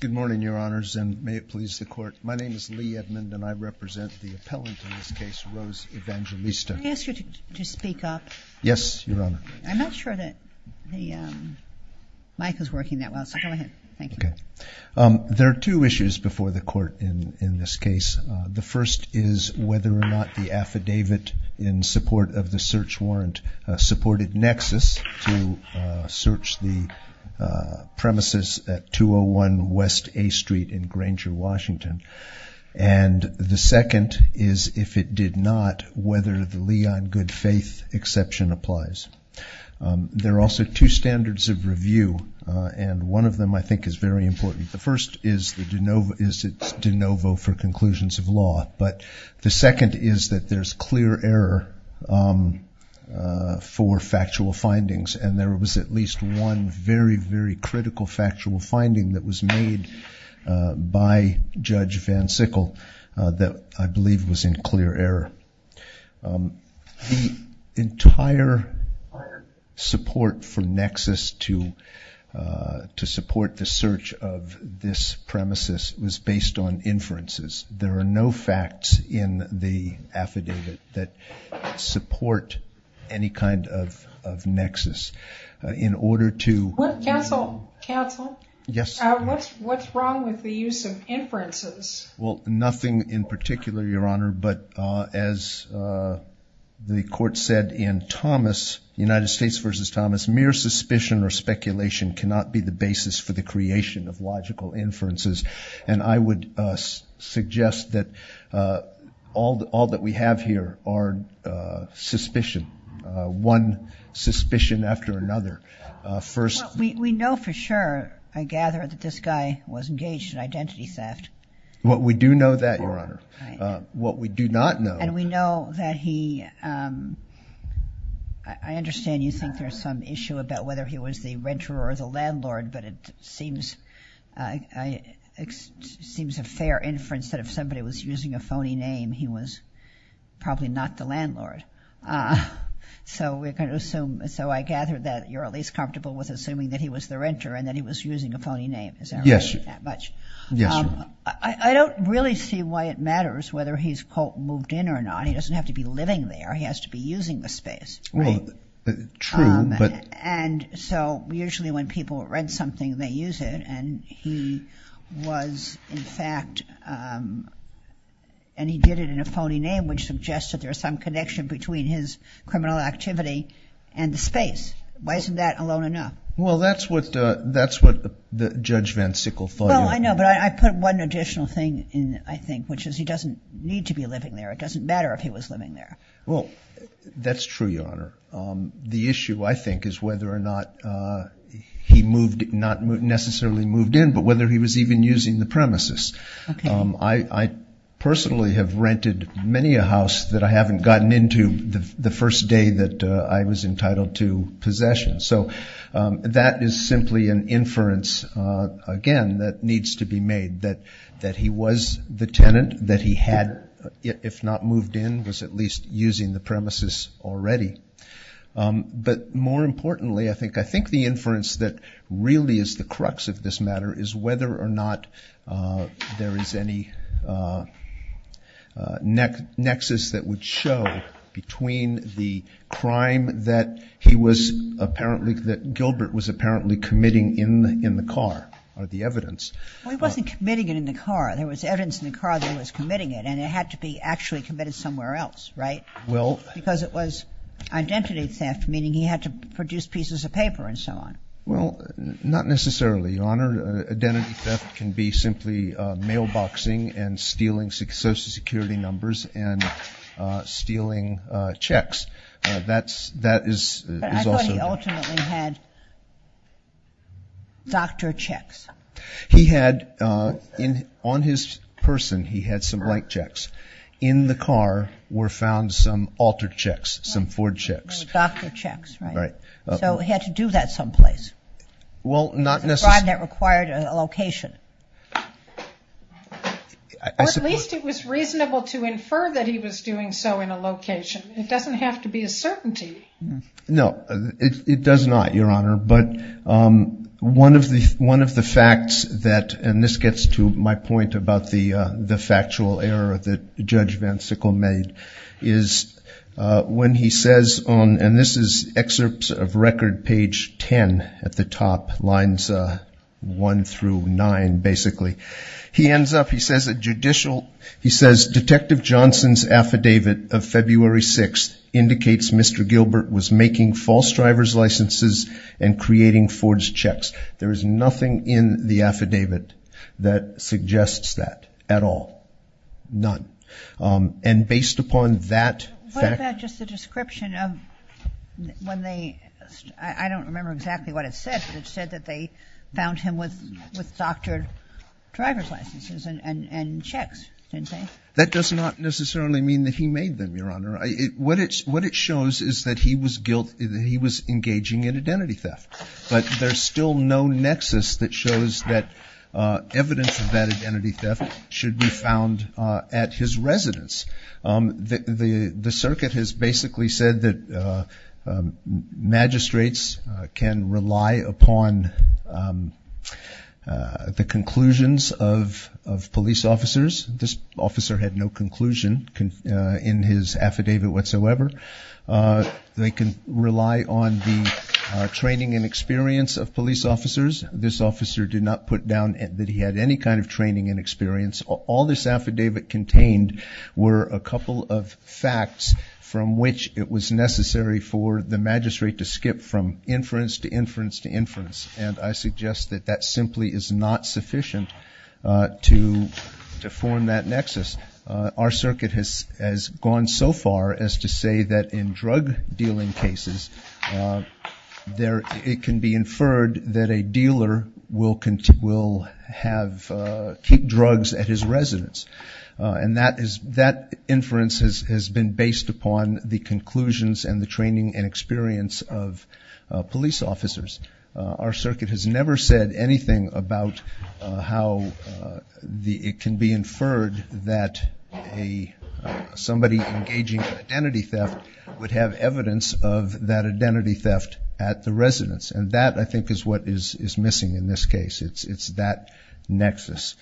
There are two issues before the court in this case. The first is whether or not the affidavit in support of the search warrant supported Nexus to search the premises of the apartment. at 201 West A Street in Granger, Washington. And the second is, if it did not, whether the Leon Goodfaith exception applies. There are also two standards of review, and one of them I think is very important. The first is it's de novo for conclusions of law, but the second is that there's clear error for factual findings, and there was at least one very, very critical factual finding that was made by Judge Van Sickle that I believe was in clear error. The entire support for Nexus to support the search of this premises was based on inferences. There are no facts in the affidavit that support any kind of Nexus. What's wrong with the use of inferences? Well, nothing in particular, Your Honor, but as the court said in Thomas, United States v. Thomas, mere suspicion or speculation cannot be the basis for the creation of logical inferences, and I would suggest that all that we have here are suspicion, one suspicion after another. Well, we know for sure, I gather, that this guy was engaged in identity theft. Well, we do know that, Your Honor. Right. What we do not know. And we know that he, I understand you think there's some issue about whether he was the renter or the landlord, but it seems a fair inference that if somebody was using a phony name, he was probably not the landlord, so we're going to assume, so I gather that you're at least comfortable with assuming that he was the renter and that he was using a phony name. Yes, Your Honor. I don't really see why it matters whether he's, quote, moved in or not. He doesn't have to be living there. He has to be using the space. Well, true, but. And so usually when people rent something, they use it, and he was, in fact, and he did it in a phony name, which suggests that there's some connection between his criminal activity and the space. Why isn't that alone enough? Well, that's what Judge Van Sickle thought. No, I know, but I put one additional thing in, I think, which is he doesn't need to be living there. It doesn't matter if he was living there. Well, that's true, Your Honor. The issue, I think, is whether or not he moved, not necessarily moved in, but whether he was even using the premises. I personally have rented many a house that I haven't gotten into the first day that I was entitled to possession. So that is simply an inference, again, that needs to be made, that he was the tenant, that he had, if not moved in, was at least using the premises already. But more importantly, I think the inference that really is the crux of this matter is whether or not there is any nexus that would show between the crime that he was apparently, that Gilbert was apparently committing in the car, or the evidence. Well, he wasn't committing it in the car. There was evidence in the car that he was committing it, and it had to be actually committed somewhere else, right? Well. Because it was identity theft, meaning he had to produce pieces of paper and so on. Well, not necessarily, Your Honor. Identity theft can be simply mailboxing and stealing social security numbers and stealing checks. That is also. But I thought he ultimately had doctor checks. He had, on his person, he had some write checks. In the car were found some alter checks, some Ford checks. Doctor checks, right. Right. So he had to do that someplace. Well, not necessarily. That required a location. At least it was reasonable to infer that he was doing so in a location. It doesn't have to be a certainty. No, it does not, Your Honor. But one of the facts that, and this gets to my point about the factual error that Judge Van Sickle made, is when he says on, and this is excerpts of record page 10 at the top, lines 1 through 9, basically. He ends up, he says, Detective Johnson's affidavit of February 6th indicates Mr. Gilbert was making false driver's licenses and creating Ford's checks. There is nothing in the affidavit that suggests that at all, none. And based upon that fact. What about just the description of when they, I don't remember exactly what it said, but it said that they found him with doctored driver's licenses and checks, didn't they? That does not necessarily mean that he made them, Your Honor. What it shows is that he was engaging in identity theft. But there's still no nexus that shows that evidence of that identity theft should be found at his residence. The circuit has basically said that magistrates can rely upon the conclusions of police officers. This officer had no conclusion in his affidavit whatsoever. They can rely on the training and experience of police officers. This officer did not put down that he had any kind of training and experience. All this affidavit contained were a couple of facts from which it was necessary for the magistrate to skip from inference to inference to inference. And I suggest that that simply is not sufficient to form that nexus. Our circuit has gone so far as to say that in drug dealing cases, it can be inferred that a dealer will keep drugs at his residence. And that inference has been based upon the conclusions and the training and experience of police officers. Our circuit has never said anything about how it can be inferred that somebody engaging in identity theft would have evidence of that identity theft at the residence. And that, I think, is what is missing in this case. It's that nexus.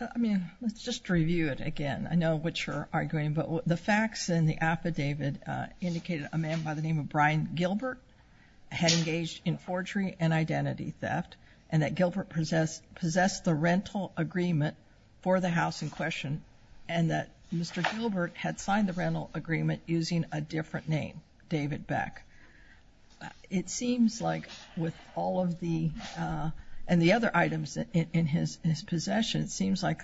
I mean, let's just review it again. I know which you're arguing, but the facts in the affidavit indicated a man by the name of Brian Gilbert had engaged in forgery and identity theft, and that Gilbert possessed the rental agreement for the house in question, and that Mr. Gilbert had signed the rental agreement using a different name, David Beck. It seems like with all of the other items in his possession, it seems like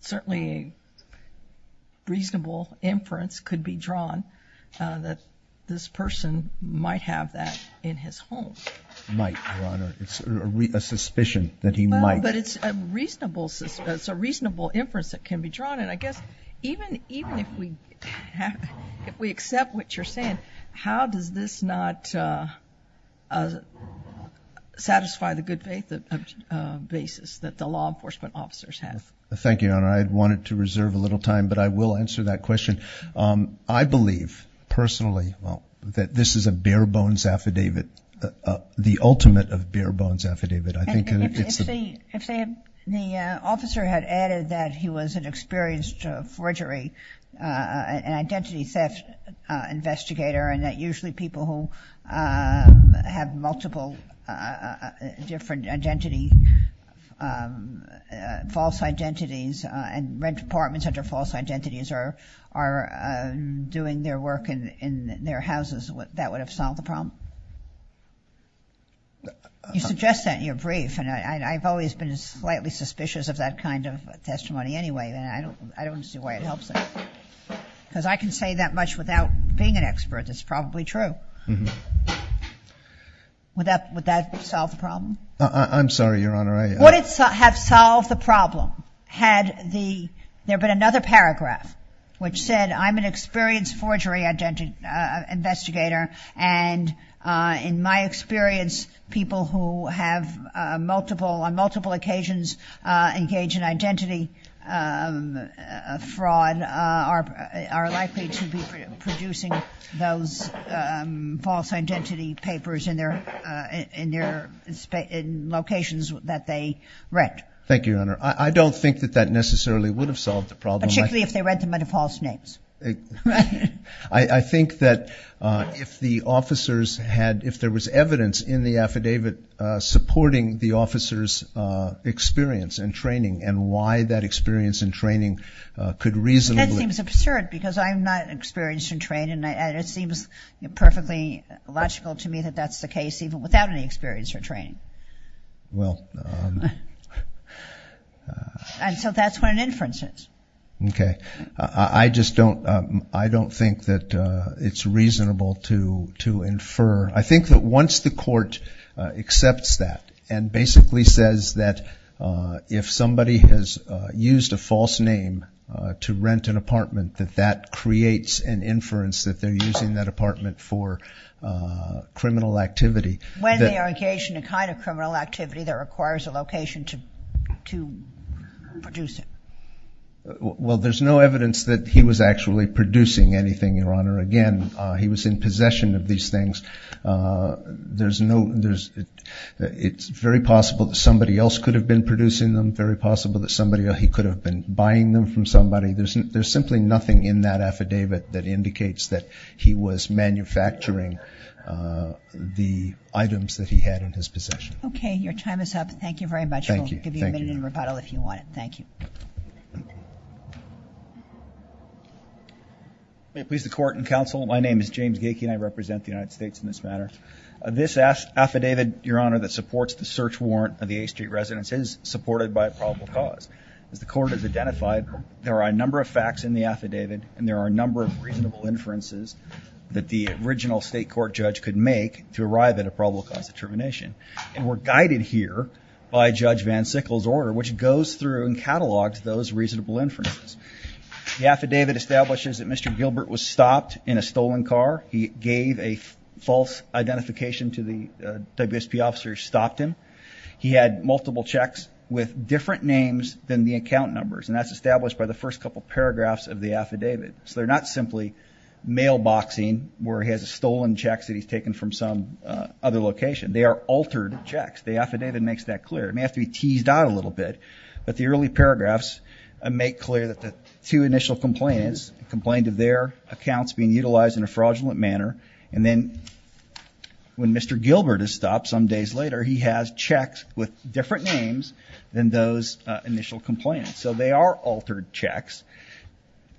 certainly a reasonable inference could be drawn that this person might have that in his home. Might, Your Honor. It's a suspicion that he might. But it's a reasonable inference that can be drawn. And I guess even if we accept what you're saying, how does this not satisfy the good faith basis that the law enforcement officers have? Thank you, Your Honor. I wanted to reserve a little time, but I will answer that question. I believe personally that this is a bare bones affidavit, the ultimate of bare bones affidavit. If the officer had added that he was an experienced forgery and identity theft investigator and that usually people who have multiple different false identities and rent apartments under false identities are doing their work in their houses, that would have solved the problem? You suggest that in your brief. And I've always been slightly suspicious of that kind of testimony anyway. And I don't see why it helps. Because I can say that much without being an expert. That's probably true. Would that solve the problem? I'm sorry, Your Honor. Would it have solved the problem had there been another paragraph which said, I'm an experienced forgery investigator. And in my experience, people who have on multiple occasions engaged in identity fraud are likely to be producing those false identity papers in locations that they rent. Thank you, Your Honor. I don't think that that necessarily would have solved the problem. Particularly if they read them under false names. I think that if there was evidence in the affidavit supporting the officer's experience and training and why that experience and training could reasonably. That seems absurd because I'm not experienced in training. And it seems perfectly logical to me that that's the case even without any experience or training. Well. And so that's what an inference is. Okay. I just don't think that it's reasonable to infer. I think that once the court accepts that and basically says that if somebody has used a false name to rent an apartment that that creates an inference that they're using that apartment for criminal activity. When they are engaged in a kind of criminal activity that requires a location to produce it. Well, there's no evidence that he was actually producing anything, Your Honor. Again, he was in possession of these things. It's very possible that somebody else could have been producing them. Very possible that somebody else could have been buying them from somebody. There's simply nothing in that affidavit that indicates that he was manufacturing the items that he had in his possession. Okay. Your time is up. Thank you very much. Thank you. We'll give you a minute in rebuttal if you want it. Thank you. May it please the Court and Counsel. My name is James Gaikin. I represent the United States in this matter. This affidavit, Your Honor, that supports the search warrant of the A Street residence is supported by a probable cause. As the Court has identified, there are a number of facts in the affidavit. And there are a number of reasonable inferences that the original state court judge could make to arrive at a probable cause determination. And we're guided here by Judge Van Sickle's order, which goes through and catalogs those reasonable inferences. The affidavit establishes that Mr. Gilbert was stopped in a stolen car. He gave a false identification to the WSP officer who stopped him. He had multiple checks with different names than the account numbers. And that's established by the first couple paragraphs of the affidavit. So they're not simply mailboxing where he has stolen checks that he's taken from some other location. They are altered checks. The affidavit makes that clear. It may have to be teased out a little bit. But the early paragraphs make clear that the two initial complainants complained of their accounts being utilized in a fraudulent manner. And then when Mr. Gilbert is stopped some days later, he has checks with different names than those initial complainants. So they are altered checks.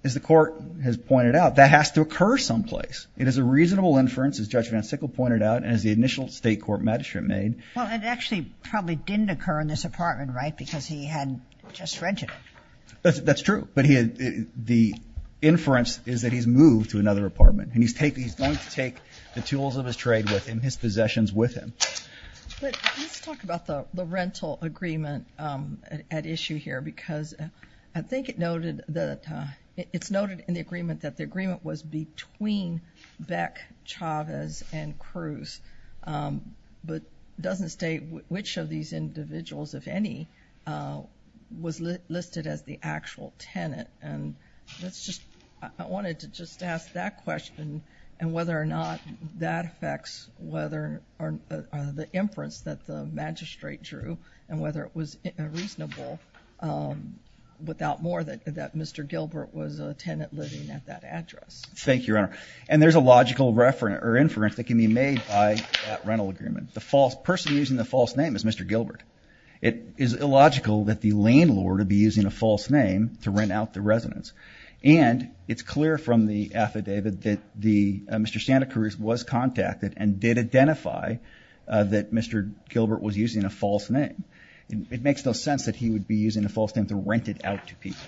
As the Court has pointed out, that has to occur someplace. It is a reasonable inference, as Judge Van Sickle pointed out, as the initial state court magistrate made. Well, it actually probably didn't occur in this apartment, right, because he had just rented it. That's true. But the inference is that he's moved to another apartment. And he's going to take the tools of his trade with him, his possessions with him. But let's talk about the rental agreement at issue here, because I think it's noted in the agreement that the agreement was between Beck, Chavez, and Cruz. But it doesn't state which of these individuals, if any, was listed as the actual tenant. I wanted to just ask that question, and whether or not that affects the inference that the magistrate drew, and whether it was reasonable, without more, that Mr. Gilbert was a tenant living at that address. Thank you, Your Honor. And there's a logical inference that can be made by that rental agreement. The person using the false name is Mr. Gilbert. It is illogical that the landlord would be using a false name to rent out the residence. And it's clear from the affidavit that Mr. Santa Cruz was contacted and did identify that Mr. Gilbert was using a false name. It makes no sense that he would be using a false name to rent it out to people.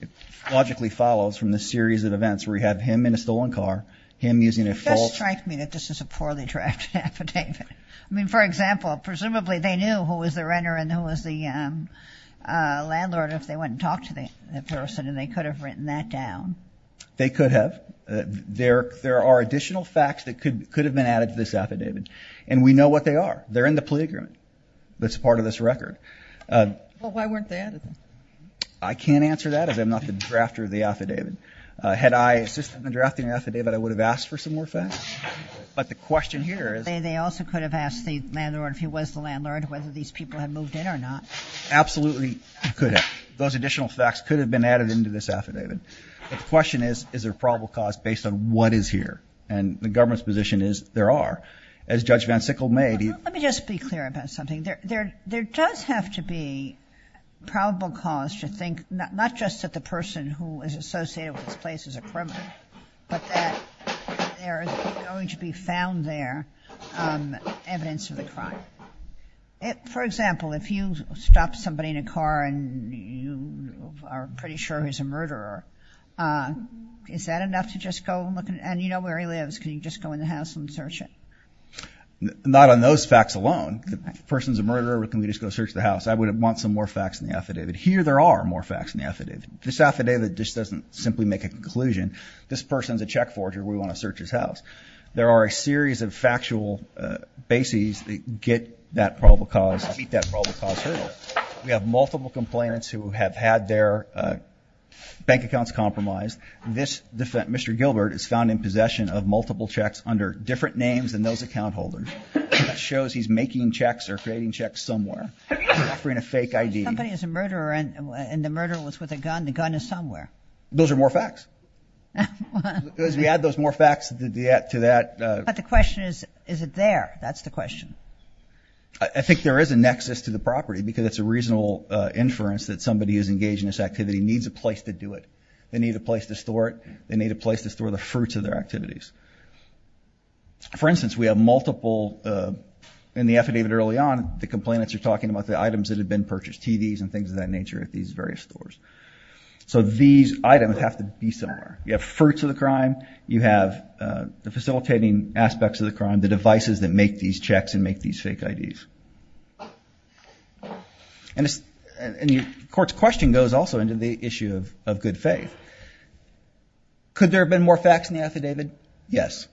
It logically follows from the series of events where we have him in a stolen car, him using a false name. It does strike me that this is a poorly drafted affidavit. I mean, for example, presumably they knew who was the renter and who was the landlord if they went and talked to the person, and they could have written that down. They could have. There are additional facts that could have been added to this affidavit, and we know what they are. They're in the plea agreement that's part of this record. Well, why weren't they added? I can't answer that, as I'm not the drafter of the affidavit. Had I assisted in drafting the affidavit, I would have asked for some more facts. But the question here is... They also could have asked the landlord if he was the landlord, whether these people had moved in or not. Absolutely could have. Those additional facts could have been added into this affidavit. But the question is, is there probable cause based on what is here? And the government's position is there are. As Judge Van Sickle made... Let me just be clear about something. There does have to be probable cause to think not just that the person who is associated with this place is a criminal, but that there is going to be found there evidence of the crime. For example, if you stop somebody in a car and you are pretty sure he's a murderer, is that enough to just go and look? And you know where he lives. Can you just go in the house and search it? Not on those facts alone. If the person's a murderer, can we just go search the house? I would want some more facts in the affidavit. Here there are more facts in the affidavit. This affidavit just doesn't simply make a conclusion. This person's a check forger. We want to search his house. There are a series of factual bases that get that probable cause, meet that probable cause hurdle. We have multiple complainants who have had their bank accounts compromised. This Mr. Gilbert is found in possession of multiple checks under different names than those account holders. It shows he's making checks or creating checks somewhere, offering a fake ID. If somebody is a murderer and the murderer was with a gun, the gun is somewhere. Those are more facts. As we add those more facts to that. But the question is, is it there? That's the question. I think there is a nexus to the property because it's a reasonable inference that somebody who's engaged in this activity needs a place to do it. They need a place to store it. They need a place to store the fruits of their activities. For instance, we have multiple in the affidavit early on, the complainants are talking about the items that have been purchased, TVs and things of that nature at these various stores. So these items have to be somewhere. You have fruits of the crime, you have the facilitating aspects of the crime, the devices that make these checks and make these fake IDs. And the court's question goes also into the issue of good faith. Could there have been more facts in the affidavit? Yes.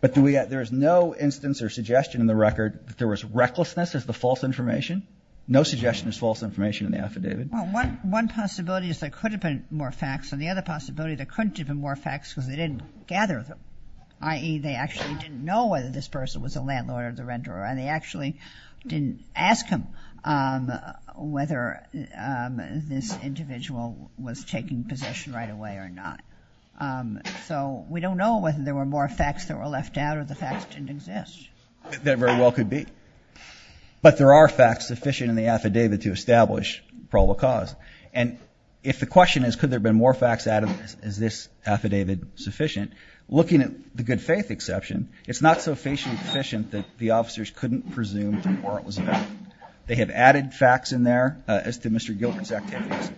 But there is no instance or suggestion in the record that there was recklessness as the false information. No suggestion is false information in the affidavit. Well, one possibility is there could have been more facts, and the other possibility is there couldn't have been more facts because they didn't gather them, i.e., they actually didn't know whether this person was a landlord or the renter, and they actually didn't ask him whether this individual was taking possession right away or not. So we don't know whether there were more facts that were left out or the facts didn't exist. That very well could be. But there are facts sufficient in the affidavit to establish probable cause. And if the question is could there have been more facts added, is this affidavit sufficient? Looking at the good faith exception, it's not so faithfully sufficient that the officers couldn't presume from where it was found. They have added facts in there as to Mr. Gilbert's activities.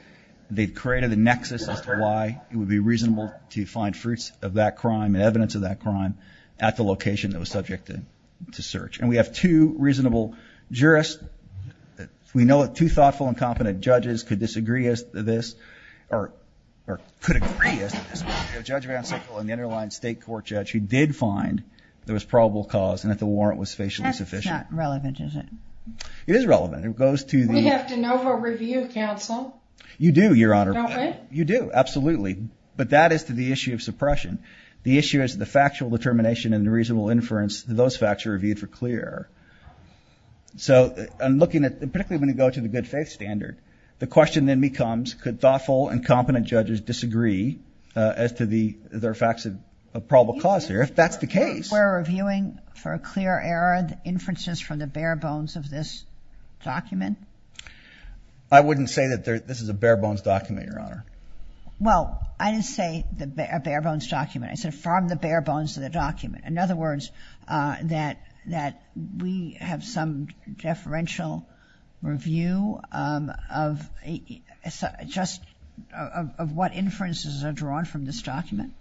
They've created a nexus as to why it would be reasonable to find fruits of that crime and evidence of that crime at the location that was subject to search. And we have two reasonable jurists. We know that two thoughtful and competent judges could disagree as to this, or could agree as to this. Judge VanSickle and the underlying state court judge who did find there was probable cause and that the warrant was facially sufficient. That's not relevant, is it? It is relevant. It goes to the- You do, Your Honor. Don't we? You do, absolutely. But that is to the issue of suppression. The issue is the factual determination and the reasonable inference that those facts are reviewed for clear error. So I'm looking at, particularly when you go to the good faith standard, the question then becomes could thoughtful and competent judges disagree as to the, there are facts of probable cause there, if that's the case. We're reviewing for a clear error the inferences from the bare bones of this document? I wouldn't say that this is a bare bones document, Your Honor. Well, I didn't say a bare bones document. I said from the bare bones of the document. In other words, that we have some deferential review of just what inferences are drawn from this document.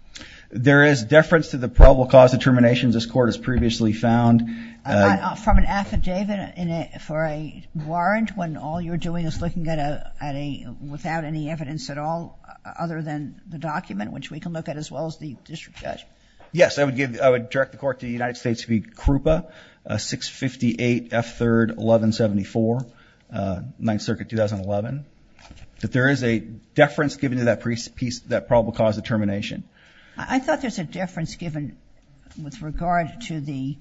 There is deference to the probable cause determinations this court has previously found. From an affidavit for a warrant when all you're doing is looking at a, without any evidence at all other than the document, which we can look at as well as the district judge? Yes. I would give, I would direct the court to the United States to be CRUPA, 658 F3rd 1174, 9th Circuit, 2011. That there is a deference given to that probable cause determination. I thought there's a deference given with regard to the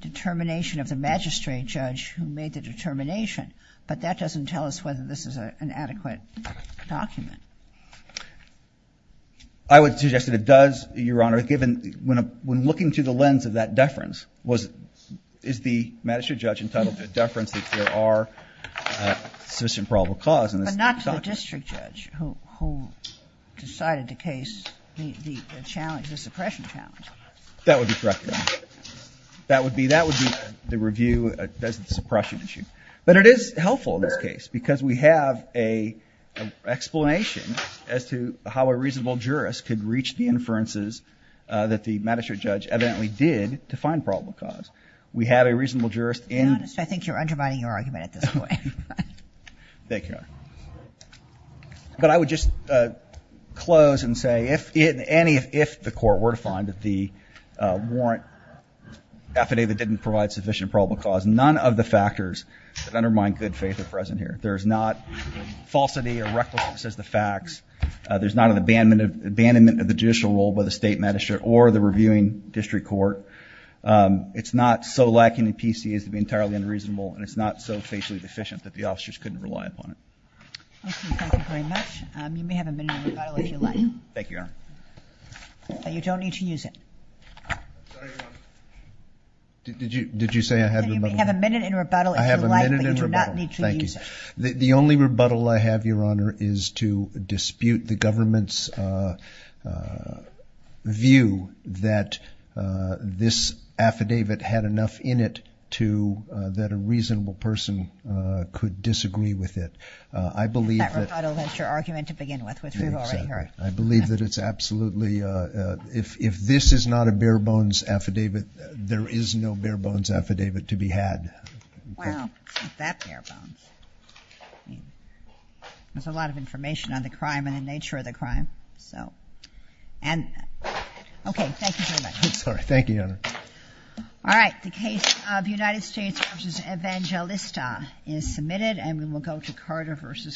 determination of the magistrate judge who made the determination, but that doesn't tell us whether this is an adequate document. I would suggest that it does, Your Honor, given, when looking through the lens of that deference, is the magistrate judge entitled to deference that there are sufficient probable cause in this document? But not to the district judge who decided the case, the challenge, the suppression challenge. That would be correct, Your Honor. That would be, that would be the review, the suppression issue. But it is helpful in this case because we have an explanation as to how a reasonable jurist could reach the inferences that the magistrate judge evidently did to find probable cause. We had a reasonable jurist in. Your Honor, I think you're undermining your argument at this point. Thank you, Your Honor. But I would just close and say if in any, if the court were to find that the warrant affidavit didn't provide sufficient probable cause, none of the factors that undermine good faith are present here. There is not falsity or recklessness as the facts. There's not an abandonment of the judicial role by the state magistrate or the reviewing district court. It's not so lacking in PC as to be entirely unreasonable, and it's not so faithfully deficient that the officers couldn't rely upon it. Thank you. Thank you very much. You may have a minute in rebuttal if you'd like. Thank you, Your Honor. You don't need to use it. Sorry, Your Honor. Did you, did you say I had a minute? You may have a minute in rebuttal if you'd like, but you do not need to use it. I have a minute in rebuttal. Thank you. The only rebuttal I have, Your Honor, is to dispute the government's view that this affidavit had enough in it to, that a reasonable person could disagree with it. I believe that... That rebuttal is your argument to begin with, which we've already heard. Exactly. I believe that it's absolutely, if this is not a bare-bones affidavit, there is no bare-bones affidavit to be had. Wow. It's not that bare-bones. There's a lot of information on the crime and the nature of the crime, so. And, okay. Thank you very much. I'm sorry. Thank you, Your Honor. All right. The case of United States v. Evangelista is submitted, and we will go to Carter v.